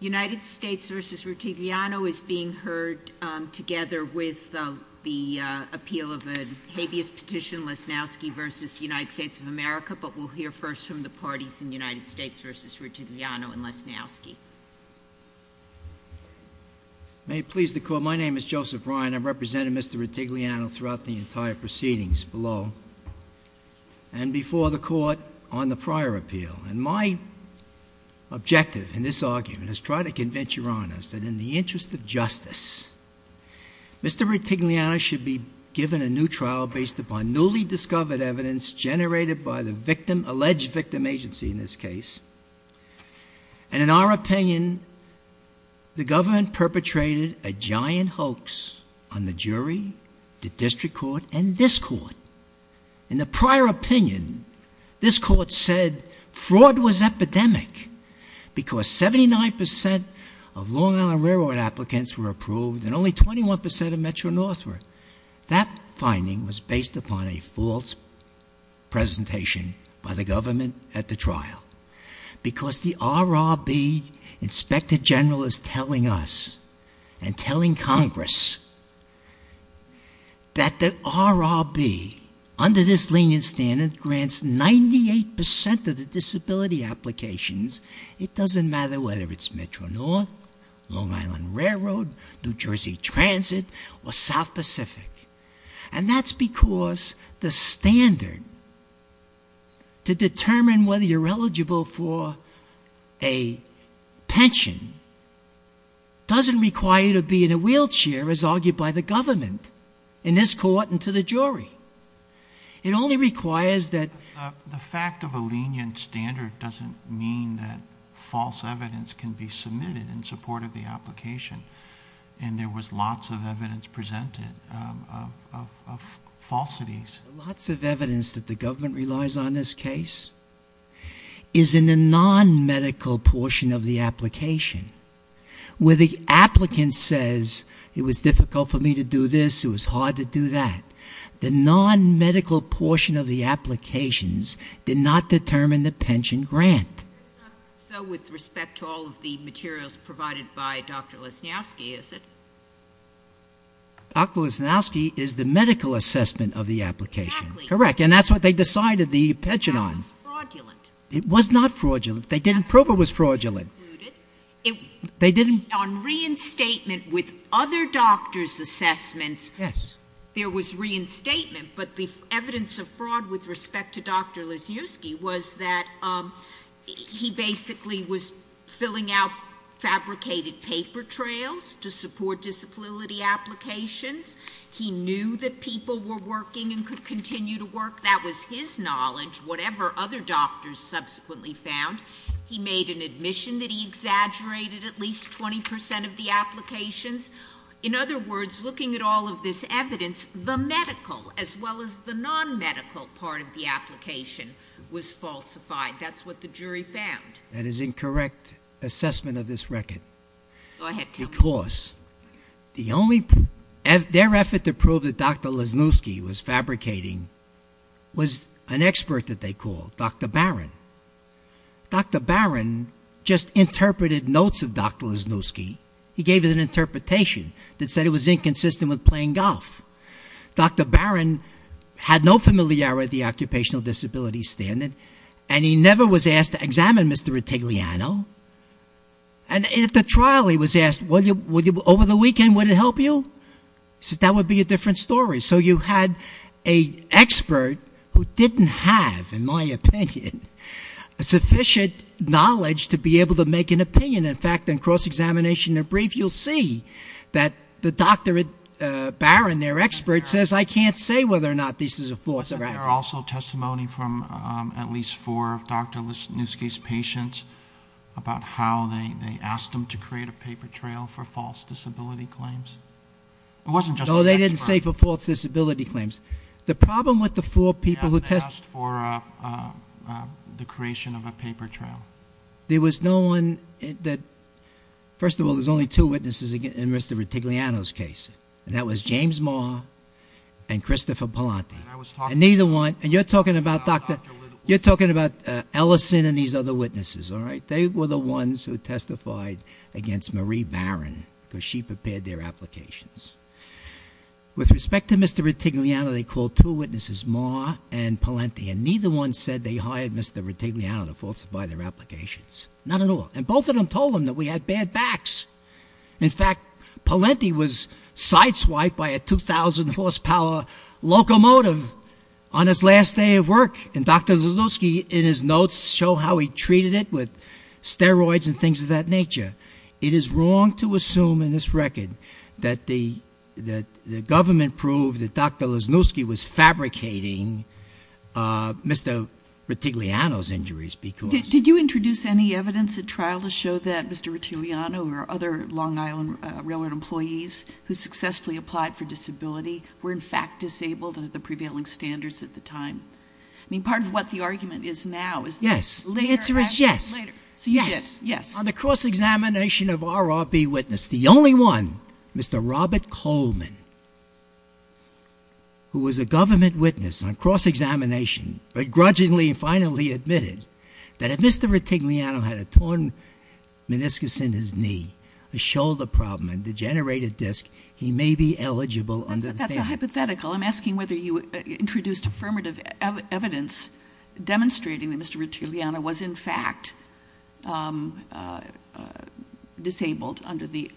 United States v. Rettigliano is being heard together with the appeal of a habeas petition, Lesnowski v. United States of America, but we'll hear first from the parties in United States v. Rettigliano and Lesnowski. May it please the Court, my name is Joseph Ryan. I've represented Mr. Rettigliano throughout the entire proceedings below and before the Court on the prior appeal. And my objective in this argument is to try to convince Your Honors that in the interest of justice, Mr. Rettigliano should be given a new trial based upon newly discovered evidence generated by the victim, alleged victim agency in this case. And in our opinion, the government perpetrated a giant hoax on the jury, the District Court, and this Court. In the prior opinion, this Court said fraud was epidemic because 79% of Long Island Railroad applicants were approved and only 21% of Metro-North were. That finding was based upon a false presentation by the government at the trial. Because the RRB, Inspector General, is telling us and telling Congress that the RRB, under this lenient standard, grants 98% of the disability applications. It doesn't matter whether it's Metro-North, Long Island Railroad, New Jersey Transit, or South Pacific. And that's because the standard to determine whether you're eligible for a pension doesn't require you to be in a wheelchair, as argued by the government, in this Court and to the jury. It only requires that... Lots of evidence that the government relies on in this case is in the non-medical portion of the application, where the applicant says, it was difficult for me to do this, it was hard to do that. The non-medical portion of the applications did not determine the pension grant. It's not so with respect to all of the materials provided by Dr. Lesnowski, is it? Dr. Lesnowski is the medical assessment of the application. Exactly. Correct. And that's what they decided the pension on. It was fraudulent. It was not fraudulent. They didn't prove it was fraudulent. On reinstatement with other doctors' assessments, there was reinstatement, but the evidence of fraud with respect to Dr. Lesnowski was that he basically was filling out fabricated paper trails to support disability applications. He knew that people were working and could continue to work. That was his knowledge, whatever other doctors subsequently found. He made an admission that he exaggerated at least 20% of the applications. In other words, looking at all of this evidence, the medical as well as the non-medical part of the application was falsified. That's what the jury found. That is incorrect assessment of this record. Go ahead, tell me. Their effort to prove that Dr. Lesnowski was fabricating was an expert that they called, Dr. Barron. Dr. Barron just interpreted notes of Dr. Lesnowski. He gave an interpretation that said it was inconsistent with playing golf. Dr. Barron had no familiarity with the occupational disability standard, and he never was asked to examine Mr. Italiano. At the trial, he was asked, over the weekend, would it help you? He said, that would be a different story. You had an expert who didn't have, in my opinion, sufficient knowledge to be able to make an opinion. In fact, in cross-examination and brief, you'll see that Dr. Barron, their expert, says, I can't say whether or not this is a false or accurate. But there are also testimony from at least four of Dr. Lesnowski's patients about how they asked him to create a paper trail for false disability claims. It wasn't just an expert. No, they didn't say for false disability claims. The problem with the four people who tested. Yeah, they asked for the creation of a paper trail. There was no one that, first of all, there's only two witnesses in Mr. Italiano's case. And that was James Ma and Christopher Palante. And neither one, and you're talking about Dr., you're talking about Ellison and these other witnesses, all right? They were the ones who testified against Marie Barron, because she prepared their applications. With respect to Mr. Italiano, they called two witnesses, Ma and Palante. And neither one said they hired Mr. Italiano to falsify their applications. Not at all. And both of them told him that we had bad backs. In fact, Palante was sideswiped by a 2,000-horsepower locomotive on his last day of work. And Dr. Lesnowski, in his notes, showed how he treated it with steroids and things of that nature. It is wrong to assume in this record that the government proved that Dr. Lesnowski was fabricating Mr. Italiano's injuries because- Did you introduce any evidence at trial to show that Mr. Italiano or other Long Island Railroad employees who successfully applied for disability were in fact disabled under the prevailing standards at the time? I mean, part of what the argument is now is- Yes. The answer is yes. So you did. Yes. On the cross-examination of RRB witness, the only one, Mr. Robert Coleman, who was a government witness on cross-examination, but grudgingly finally admitted that if Mr. Italiano had a torn meniscus in his knee, a shoulder problem, and degenerated disc, he may be eligible under the- That's a hypothetical. I'm asking whether you introduced affirmative evidence demonstrating that Mr. Italiano was in fact disabled under the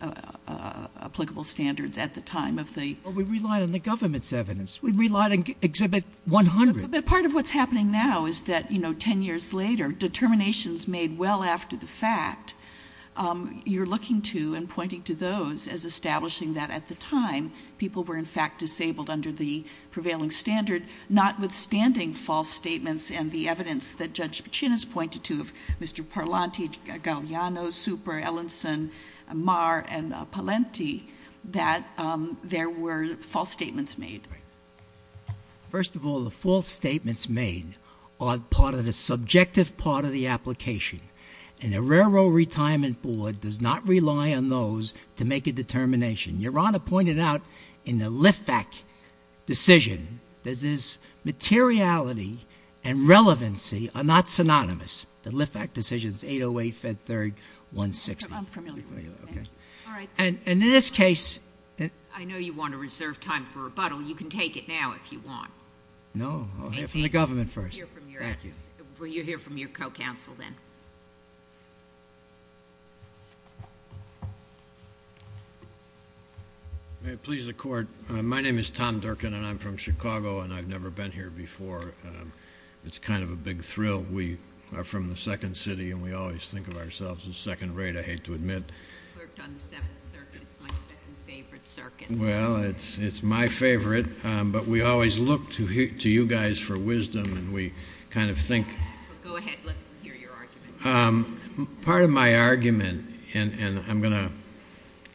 applicable standards at the time of the- Well, we relied on the government's evidence. We relied on Exhibit 100. But part of what's happening now is that, you know, 10 years later, determinations made well after the fact, you're looking to and pointing to those as establishing that at the time, people were in fact disabled under the prevailing standard, notwithstanding false statements and the evidence that Judge Pacin has pointed to, Mr. Parlante, Gagliano, Super, Ellenson, Marr, and Palenti, that there were false statements made. First of all, the false statements made are part of the subjective part of the application. And the Railroad Retirement Board does not rely on those to make a determination. Your Honor pointed out in the LIFAC decision that this materiality and relevancy are not synonymous. The LIFAC decision is 808, Fed 3rd, 160. I'm familiar with that. Okay. All right. And in this case- I know you want to reserve time for rebuttal. You can take it now if you want. No. I'll hear from the government first. Thank you. We'll hear from your co-counsel then. May it please the Court. My name is Tom Durkin, and I'm from Chicago, and I've never been here before. It's kind of a big thrill. We are from the second city, and we always think of ourselves as second rate, I hate to admit. I worked on the Seventh Circuit. It's my second favorite circuit. Well, it's my favorite, but we always look to you guys for wisdom, and we kind of think- Go ahead. Let's hear your argument. Part of my argument, and I'm going to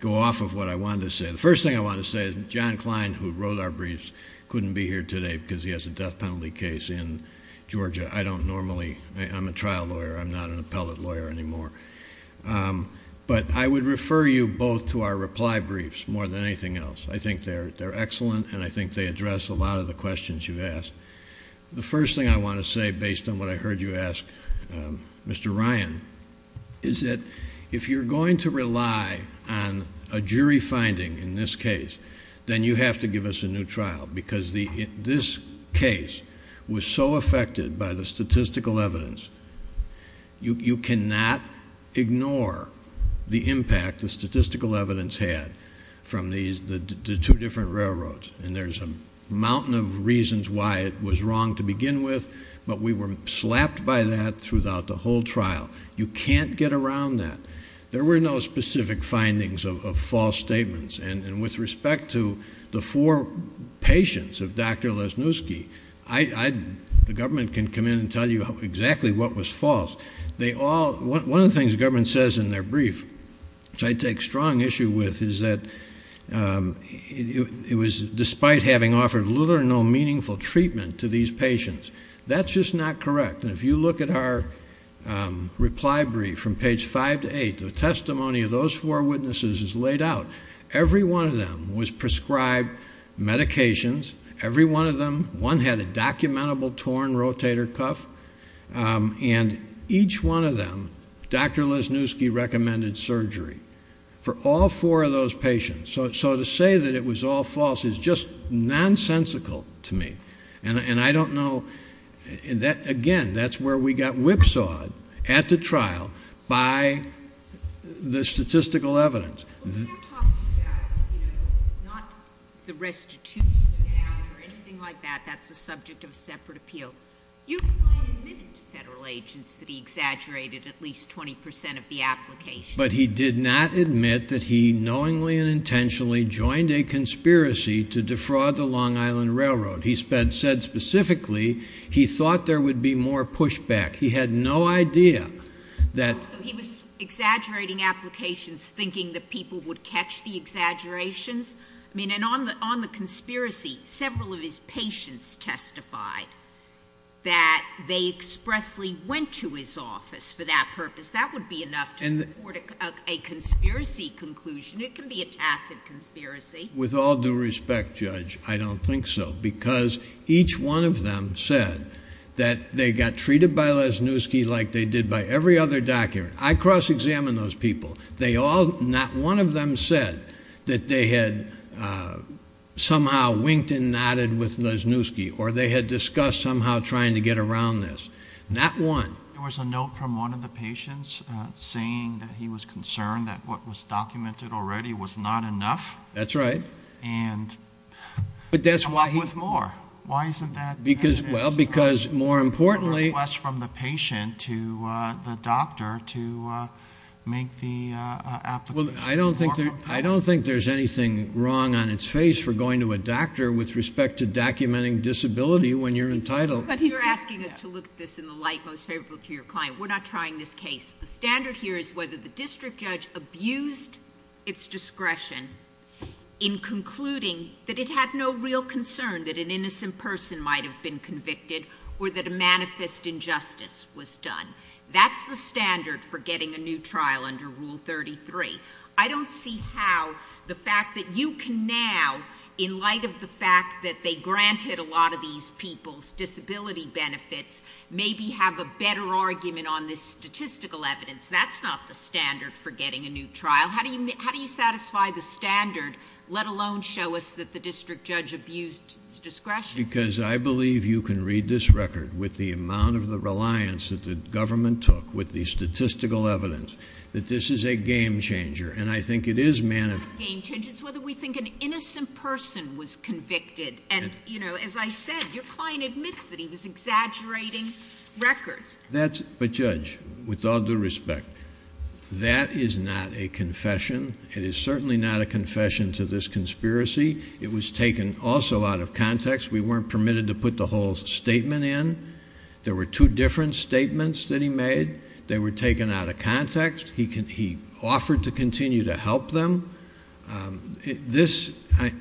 go off of what I wanted to say. The first thing I want to say is John Klein, who wrote our briefs, couldn't be here today because he has a death penalty case in Georgia. I don't normally-I'm a trial lawyer. I'm not an appellate lawyer anymore. But I would refer you both to our reply briefs more than anything else. I think they're excellent, and I think they address a lot of the questions you've asked. The first thing I want to say, based on what I heard you ask Mr. Ryan, is that if you're going to rely on a jury finding in this case, then you have to give us a new trial, because this case was so affected by the statistical evidence. You cannot ignore the impact the statistical evidence had from the two different railroads, and there's a mountain of reasons why it was wrong to begin with, but we were slapped by that throughout the whole trial. You can't get around that. There were no specific findings of false statements, and with respect to the four patients of Dr. Lesniewski, the government can come in and tell you exactly what was false. One of the things the government says in their brief, which I take strong issue with, is that it was despite having offered little or no meaningful treatment to these patients. That's just not correct. And if you look at our reply brief from page 5 to 8, the testimony of those four witnesses is laid out. Every one of them was prescribed medications. Every one of them, one had a documentable torn rotator cuff. And each one of them, Dr. Lesniewski recommended surgery for all four of those patients. So to say that it was all false is just nonsensical to me, and I don't know. Again, that's where we got whipsawed at the trial by the statistical evidence. Well, if you're talking about, you know, not the restitution of damage or anything like that, that's a subject of a separate appeal. You might admit to federal agents that he exaggerated at least 20 percent of the application. But he did not admit that he knowingly and intentionally joined a conspiracy to defraud the Long Island Railroad. He said specifically he thought there would be more pushback. He had no idea that. So he was exaggerating applications, thinking that people would catch the exaggerations? I mean, and on the conspiracy, several of his patients testified that they expressly went to his office for that purpose. That would be enough to support a conspiracy conclusion. It can be a tacit conspiracy. With all due respect, Judge, I don't think so, because each one of them said that they got treated by Lesniewski like they did by every other doctor. I cross-examined those people. Not one of them said that they had somehow winked and nodded with Lesniewski or they had discussed somehow trying to get around this. Not one. There was a note from one of the patients saying that he was concerned that what was documented already was not enough. That's right. But that's why he... Come up with more. Why isn't that... Well, because, more importantly... A request from the patient to the doctor to make the application. I don't think there's anything wrong on its face for going to a doctor with respect to documenting disability when you're entitled. But you're asking us to look at this in the light most favorable to your client. We're not trying this case. The standard here is whether the district judge abused its discretion in concluding that it had no real concern that an innocent person might have been convicted or that a manifest injustice was done. That's the standard for getting a new trial under Rule 33. I don't see how the fact that you can now, in light of the fact that they granted a lot of these people's disability benefits, maybe have a better argument on this statistical evidence. That's not the standard for getting a new trial. How do you satisfy the standard, let alone show us that the district judge abused its discretion? Because I believe you can read this record with the amount of the reliance that the government took with the statistical evidence that this is a game changer. And I think it is... It's not a game changer. It's whether we think an innocent person was convicted. And, you know, as I said, your client admits that he was exaggerating records. But, Judge, with all due respect, that is not a confession. It is certainly not a confession to this conspiracy. It was taken also out of context. We weren't permitted to put the whole statement in. There were two different statements that he made. They were taken out of context. He offered to continue to help them. This... All right.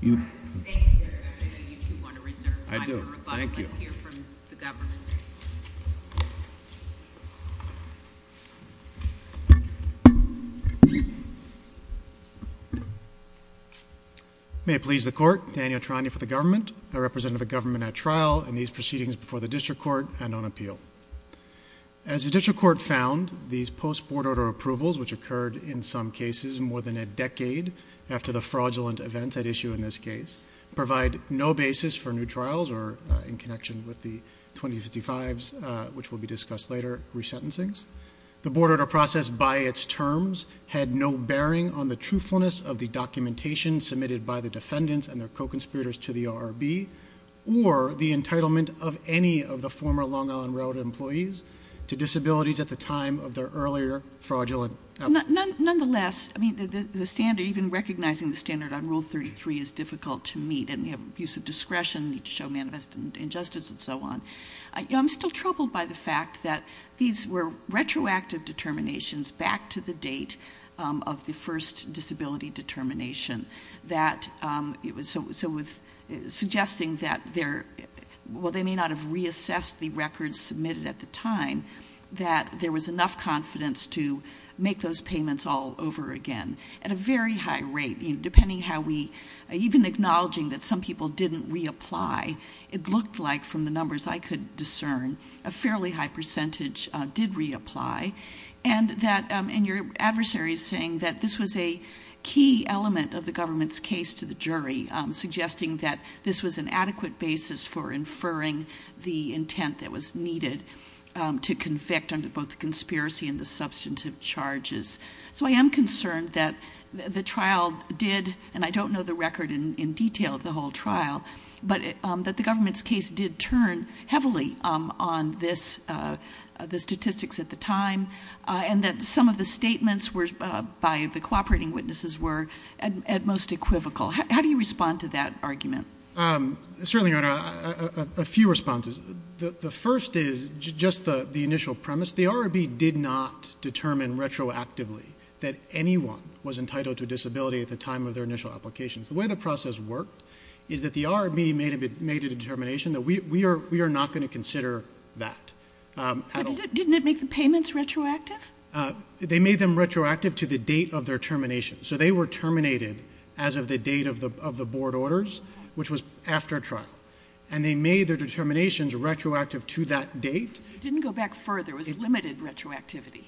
Thank you, Judge. I know you two want to reserve time for rebuttal. I do. Thank you. Let's hear from the government. May it please the Court. Daniel Trani for the government. I represent the government at trial in these proceedings before the district court and on appeal. As the district court found, these post-Board Order approvals, which occurred in some cases more than a decade after the fraudulent events at issue in this case, provide no basis for new trials or, in connection with the 2055s, which will be discussed later, resentencings. The Board Order process, by its terms, had no bearing on the truthfulness of the documentation submitted by the defendants and their co-conspirators to the ORB or the entitlement of any of the former Long Island Railroad employees to disabilities at the time of their earlier fraudulent... Nonetheless, I mean, the standard, even recognizing the standard on Rule 33, is difficult to meet. And you have abuse of discretion, need to show manifest injustice, and so on. I'm still troubled by the fact that these were retroactive determinations back to the date of the first disability determination. That it was... So, with suggesting that there... Well, they may not have reassessed the records submitted at the time, that there was enough confidence to make those payments all over again at a very high rate. You know, depending how we... Even acknowledging that some people didn't reapply, it looked like, from the numbers I could discern, a fairly high percentage did reapply. And that... And your adversary is saying that this was a key element of the government's case to the jury, suggesting that this was an adequate basis for inferring the intent that was needed to convict under both the conspiracy and the substantive charges. So, I am concerned that the trial did... And I don't know the record in detail of the whole trial, but that the government's case did turn heavily on the statistics at the time, and that some of the statements by the cooperating witnesses were at most equivocal. How do you respond to that argument? Certainly, Your Honor, a few responses. The first is just the initial premise. The RRB did not determine retroactively that anyone was entitled to a disability at the time of their initial applications. The way the process worked is that the RRB made a determination that we are not going to consider that. Didn't it make the payments retroactive? They made them retroactive to the date of their termination. So, they were terminated as of the date of the board orders, which was after trial. And they made their determinations retroactive to that date. It didn't go back further. It was limited retroactivity.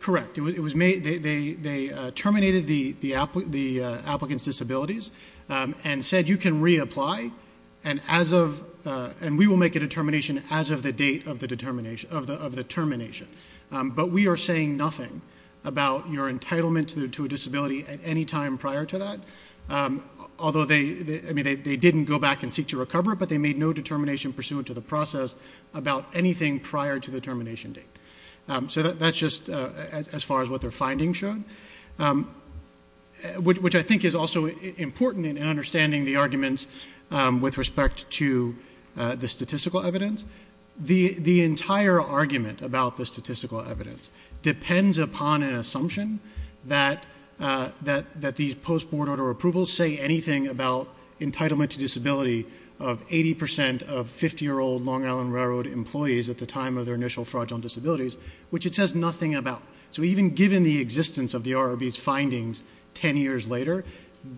Correct. They terminated the applicant's disabilities and said you can reapply, and we will make a determination as of the date of the termination. But we are saying nothing about your entitlement to a disability at any time prior to that, although they didn't go back and seek to recover it, but they made no determination pursuant to the process about anything prior to the termination date. So, that's just as far as what their findings showed, which I think is also important in understanding the arguments with respect to the statistical evidence. The entire argument about the statistical evidence depends upon an assumption that these post-board order approvals say anything about entitlement to disability of 80% of 50-year-old Long Island Railroad employees at the time of their initial fraudulent disabilities, which it says nothing about. So, even given the existence of the RRB's findings 10 years later,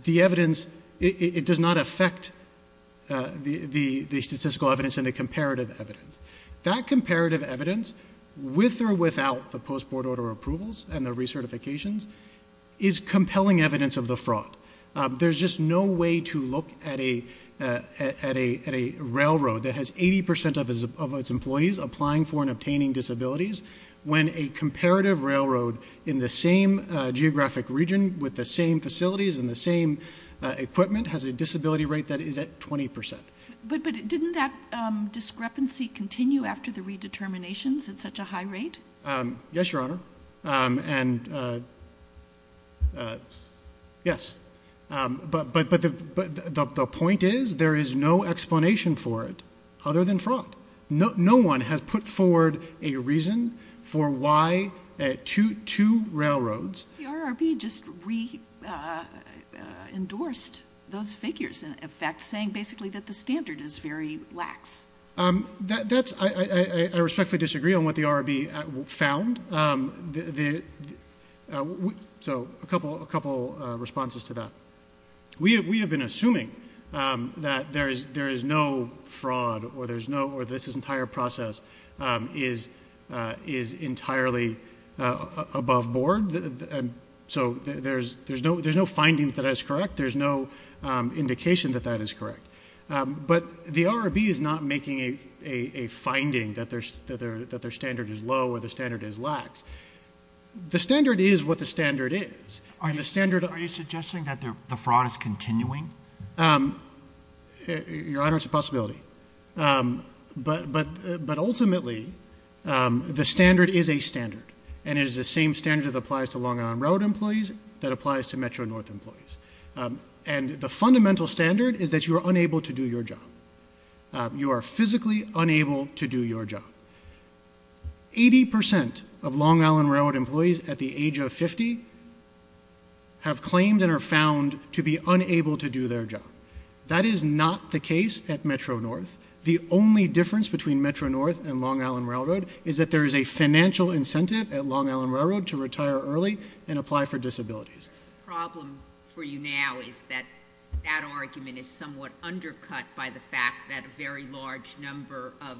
the evidence does not affect the statistical evidence and the comparative evidence. That comparative evidence, with or without the post-board order approvals and the recertifications, is compelling evidence of the fraud. There's just no way to look at a railroad that has 80% of its employees applying for and obtaining disabilities when a comparative railroad in the same geographic region with the same facilities and the same equipment has a disability rate that is at 20%. But didn't that discrepancy continue after the redeterminations at such a high rate? Yes, Your Honor, and yes. But the point is there is no explanation for it other than fraud. No one has put forward a reason for why two railroads The RRB just re-endorsed those figures in effect, saying basically that the standard is very lax. I respectfully disagree on what the RRB found. So, a couple responses to that. We have been assuming that there is no fraud or this entire process is entirely above board. So, there's no finding that is correct. There's no indication that that is correct. But the RRB is not making a finding that their standard is low or their standard is lax. The standard is what the standard is. Are you suggesting that the fraud is continuing? Your Honor, it's a possibility. But ultimately, the standard is a standard. And it is the same standard that applies to Long Island Railroad employees that applies to Metro-North employees. And the fundamental standard is that you are unable to do your job. You are physically unable to do your job. 80% of Long Island Railroad employees at the age of 50 have claimed and are found to be unable to do their job. That is not the case at Metro-North. The only difference between Metro-North and Long Island Railroad is that there is a financial incentive at Long Island Railroad to retire early and apply for disabilities. The problem for you now is that that argument is somewhat undercut by the fact that a very large number of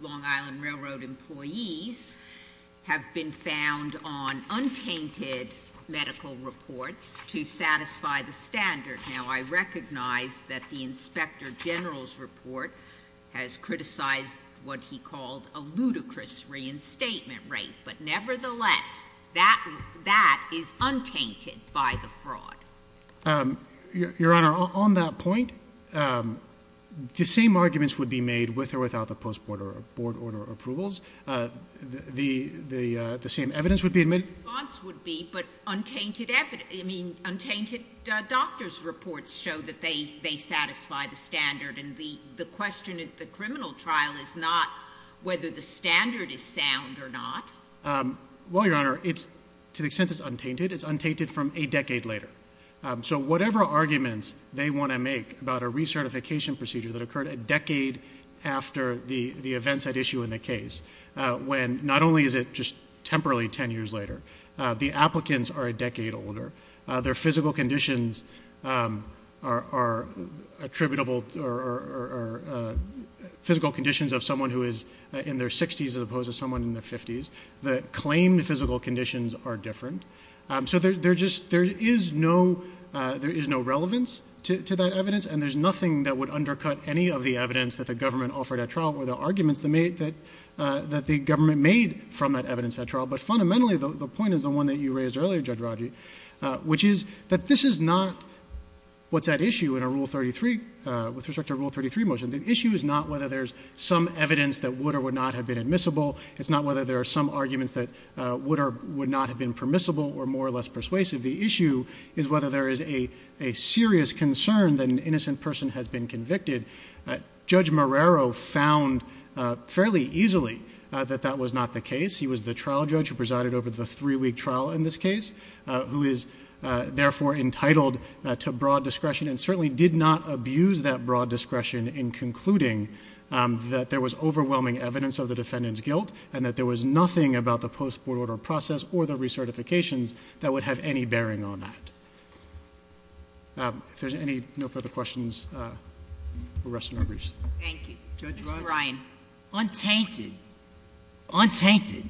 Long Island Railroad employees have been found on untainted medical reports to satisfy the standard. Now, I recognize that the Inspector General's report has criticized what he called a ludicrous reinstatement rate. But nevertheless, that is untainted by the fraud. Your Honor, on that point, the same arguments would be made with or without the Post Board Order approvals. The same evidence would be admitted. The response would be, but untainted doctors' reports show that they satisfy the standard. And the question at the criminal trial is not whether the standard is sound or not. Well, Your Honor, to the extent it's untainted, it's untainted from a decade later. So whatever arguments they want to make about a recertification procedure that occurred a decade after the events at issue in the case, when not only is it just temporarily 10 years later, the applicants are a decade older, their physical conditions are attributable or physical conditions of someone who is in their 60s as opposed to someone in their 50s. The claimed physical conditions are different. So there is no relevance to that evidence, and there's nothing that would undercut any of the evidence that the government offered at trial or the arguments that the government made from that evidence at trial. But fundamentally, the point is the one that you raised earlier, Judge Rodger, which is that this is not what's at issue in a Rule 33, with respect to a Rule 33 motion. The issue is not whether there's some evidence that would or would not have been admissible. It's not whether there are some arguments that would or would not have been permissible or more or less persuasive. The issue is whether there is a serious concern that an innocent person has been convicted. Judge Marrero found fairly easily that that was not the case. He was the trial judge who presided over the three-week trial in this case, who is therefore entitled to broad discretion and certainly did not abuse that broad discretion in concluding that there was overwhelming evidence of the defendant's guilt and that there was nothing about the post-court order process or the recertifications that would have any bearing on that. If there's no further questions, we'll rest in our briefs. Thank you. Judge Ryan. Untainted, untainted,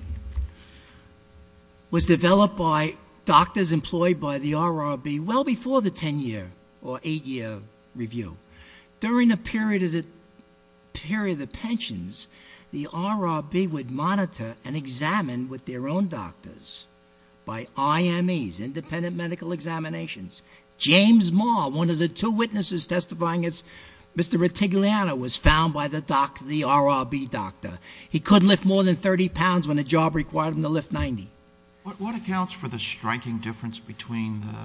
was developed by doctors employed by the RRB well before the 10-year or 8-year review. During the period of pensions, the RRB would monitor and examine with their own doctors by IMEs, independent medical examinations. James Marr, one of the two witnesses testifying, Mr. Retigliano, was found by the RRB doctor. He couldn't lift more than 30 pounds when the job required him to lift 90. What accounts for the striking difference between the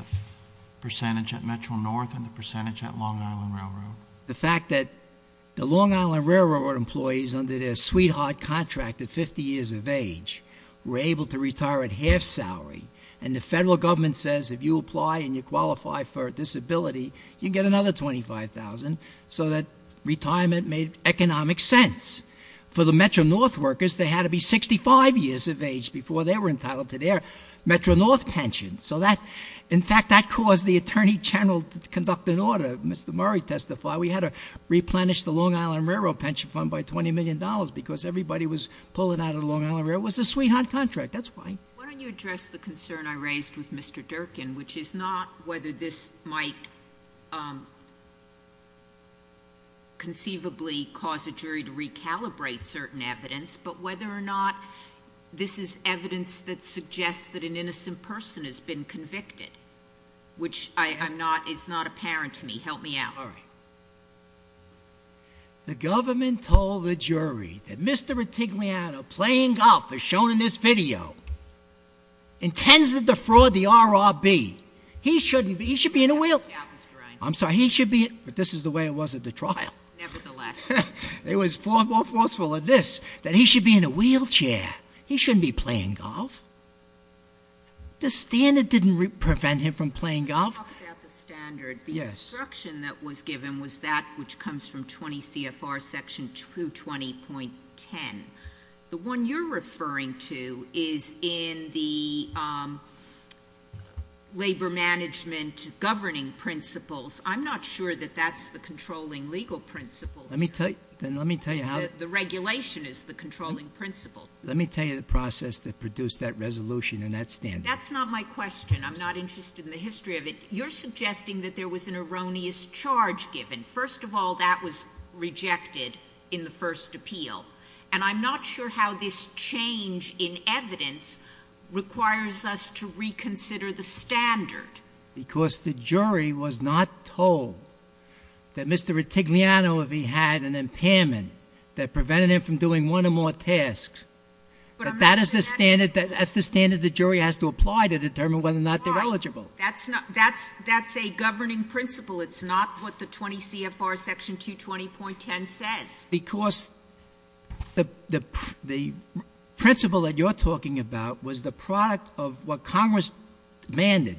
percentage at Metro-North and the percentage at Long Island Railroad? The fact that the Long Island Railroad employees under their sweetheart contract at 50 years of age were able to retire at half salary and the federal government says if you apply and you qualify for a disability, you can get another $25,000 so that retirement made economic sense. For the Metro-North workers, they had to be 65 years of age before they were entitled to their Metro-North pensions. So that, in fact, that caused the Attorney General to conduct an order. Mr. Murray testified we had to replenish the Long Island Railroad pension fund by $20 million because everybody was pulling out of the Long Island Railroad. It was a sweetheart contract. That's why. Why don't you address the concern I raised with Mr. Durkin, which is not whether this might conceivably cause a jury to recalibrate certain evidence, but whether or not this is evidence that suggests that an innocent person has been convicted, which is not apparent to me. Help me out. All right. The government told the jury that Mr. Retigliano playing golf, as shown in this video, intends to defraud the RRB. He shouldn't be, he should be in a wheelchair. I'm sorry, he should be, but this is the way it was at the trial. Nevertheless. It was far more forceful than this, that he should be in a wheelchair. He shouldn't be playing golf. The standard didn't prevent him from playing golf. When you talk about the standard, the instruction that was given was that which comes from 20 CFR section 220.10. The one you're referring to is in the labor management governing principles. I'm not sure that that's the controlling legal principle. Let me tell you how. The regulation is the controlling principle. Let me tell you the process that produced that resolution and that standard. That's not my question. I'm not interested in the history of it. You're suggesting that there was an erroneous charge given. First of all, that was rejected in the first appeal. And I'm not sure how this change in evidence requires us to reconsider the standard. Because the jury was not told that Mr. Retigliano, if he had an impairment, that prevented him from doing one or more tasks. That's the standard the jury has to apply to determine whether or not they're eligible. That's a governing principle. It's not what the 20 CFR section 220.10 says. Because the principle that you're talking about was the product of what Congress demanded.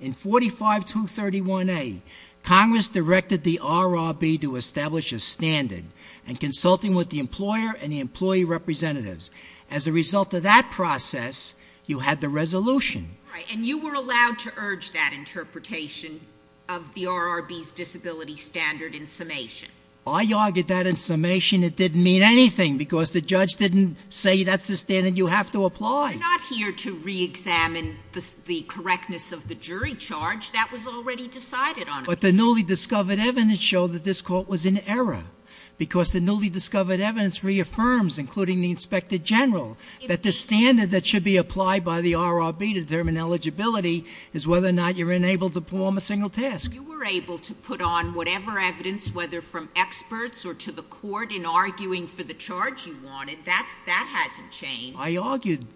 In 45231A, Congress directed the RRB to establish a standard in consulting with the employer and the employee representatives. As a result of that process, you had the resolution. Right. And you were allowed to urge that interpretation of the RRB's disability standard in summation. I argued that in summation. It didn't mean anything because the judge didn't say that's the standard you have to apply. You're not here to re-examine the correctness of the jury charge. That was already decided on. But the newly discovered evidence showed that this court was in error. Because the newly discovered evidence reaffirms, including the Inspector General, that the standard that should be applied by the RRB to determine eligibility is whether or not you're enabled to perform a single task. You were able to put on whatever evidence, whether from experts or to the court, in arguing for the charge you wanted. That hasn't changed. I argued.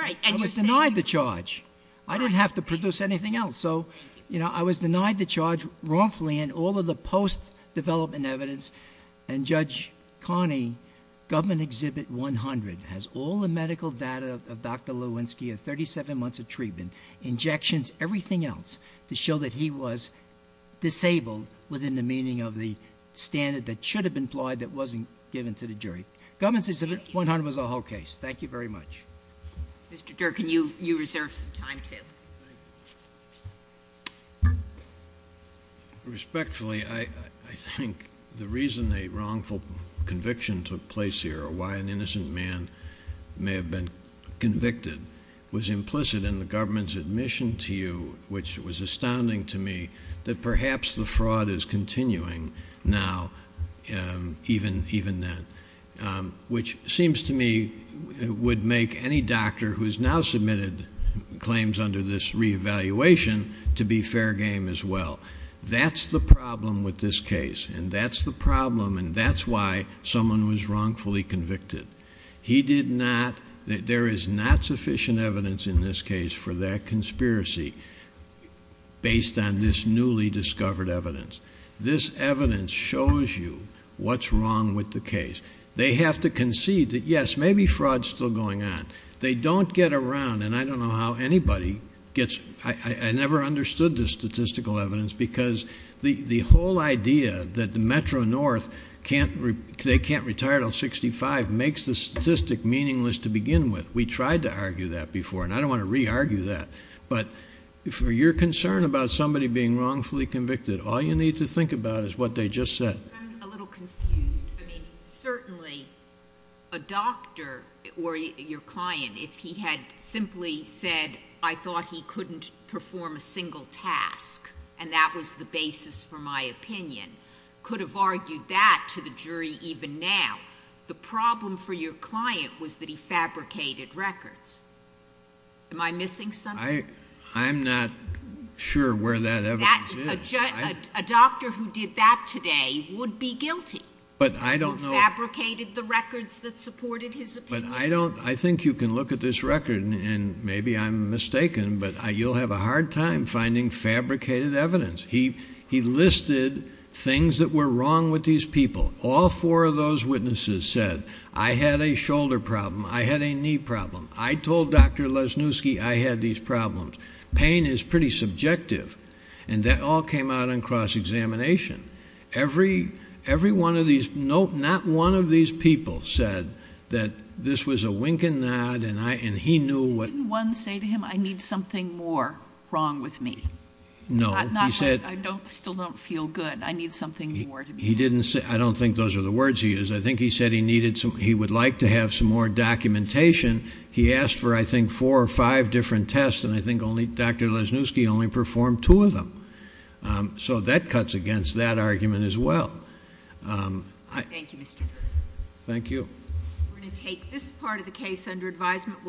I was denied the charge. I didn't have to produce anything else. So I was denied the charge wrongfully in all of the post-development evidence. And Judge Carney, Government Exhibit 100 has all the medical data of Dr. Lewinsky of 37 months of treatment. Injections, everything else, to show that he was disabled within the meaning of the standard that should have been applied that wasn't given to the jury. Government Exhibit 100 was the whole case. Thank you very much. Mr. Durkin, you reserve some time, too. Respectfully, I think the reason a wrongful conviction took place here or why an innocent man may have been convicted was implicit in the government's admission to you, which was astounding to me, that perhaps the fraud is continuing now, even then. Which seems to me would make any doctor who has now submitted claims under this reevaluation to be fair game as well. That's the problem with this case, and that's the problem, and that's why someone was wrongfully convicted. He did not, there is not sufficient evidence in this case for that conspiracy based on this newly discovered evidence. This evidence shows you what's wrong with the case. They have to concede that, yes, maybe fraud's still going on. They don't get around, and I don't know how anybody gets, I never understood this statistical evidence because the whole idea that the Metro-North can't, they can't retire until 65 makes the statistic meaningless to begin with. We tried to argue that before, and I don't want to re-argue that. But for your concern about somebody being wrongfully convicted, all you need to think about is what they just said. I'm a little confused. Certainly a doctor or your client, if he had simply said, I thought he couldn't perform a single task, and that was the basis for my opinion, could have argued that to the jury even now. The problem for your client was that he fabricated records. Am I missing something? I'm not sure where that evidence is. A doctor who did that today would be guilty. But I don't know. Who fabricated the records that supported his opinion. But I don't, I think you can look at this record, and maybe I'm mistaken, but you'll have a hard time finding fabricated evidence. He listed things that were wrong with these people. All four of those witnesses said, I had a shoulder problem. I had a knee problem. I told Dr. Lesniewski I had these problems. Pain is pretty subjective. And that all came out in cross-examination. Every one of these, not one of these people said that this was a wink and nod, and he knew what. Didn't one say to him, I need something more wrong with me? No. I still don't feel good. I need something more to be wrong. I don't think those are the words he used. I think he said he would like to have some more documentation. He asked for, I think, four or five different tests, and I think Dr. Lesniewski only performed two of them. So that cuts against that argument as well. Thank you, Mr. Kirby. Thank you. We're going to take this part of the case under advisement.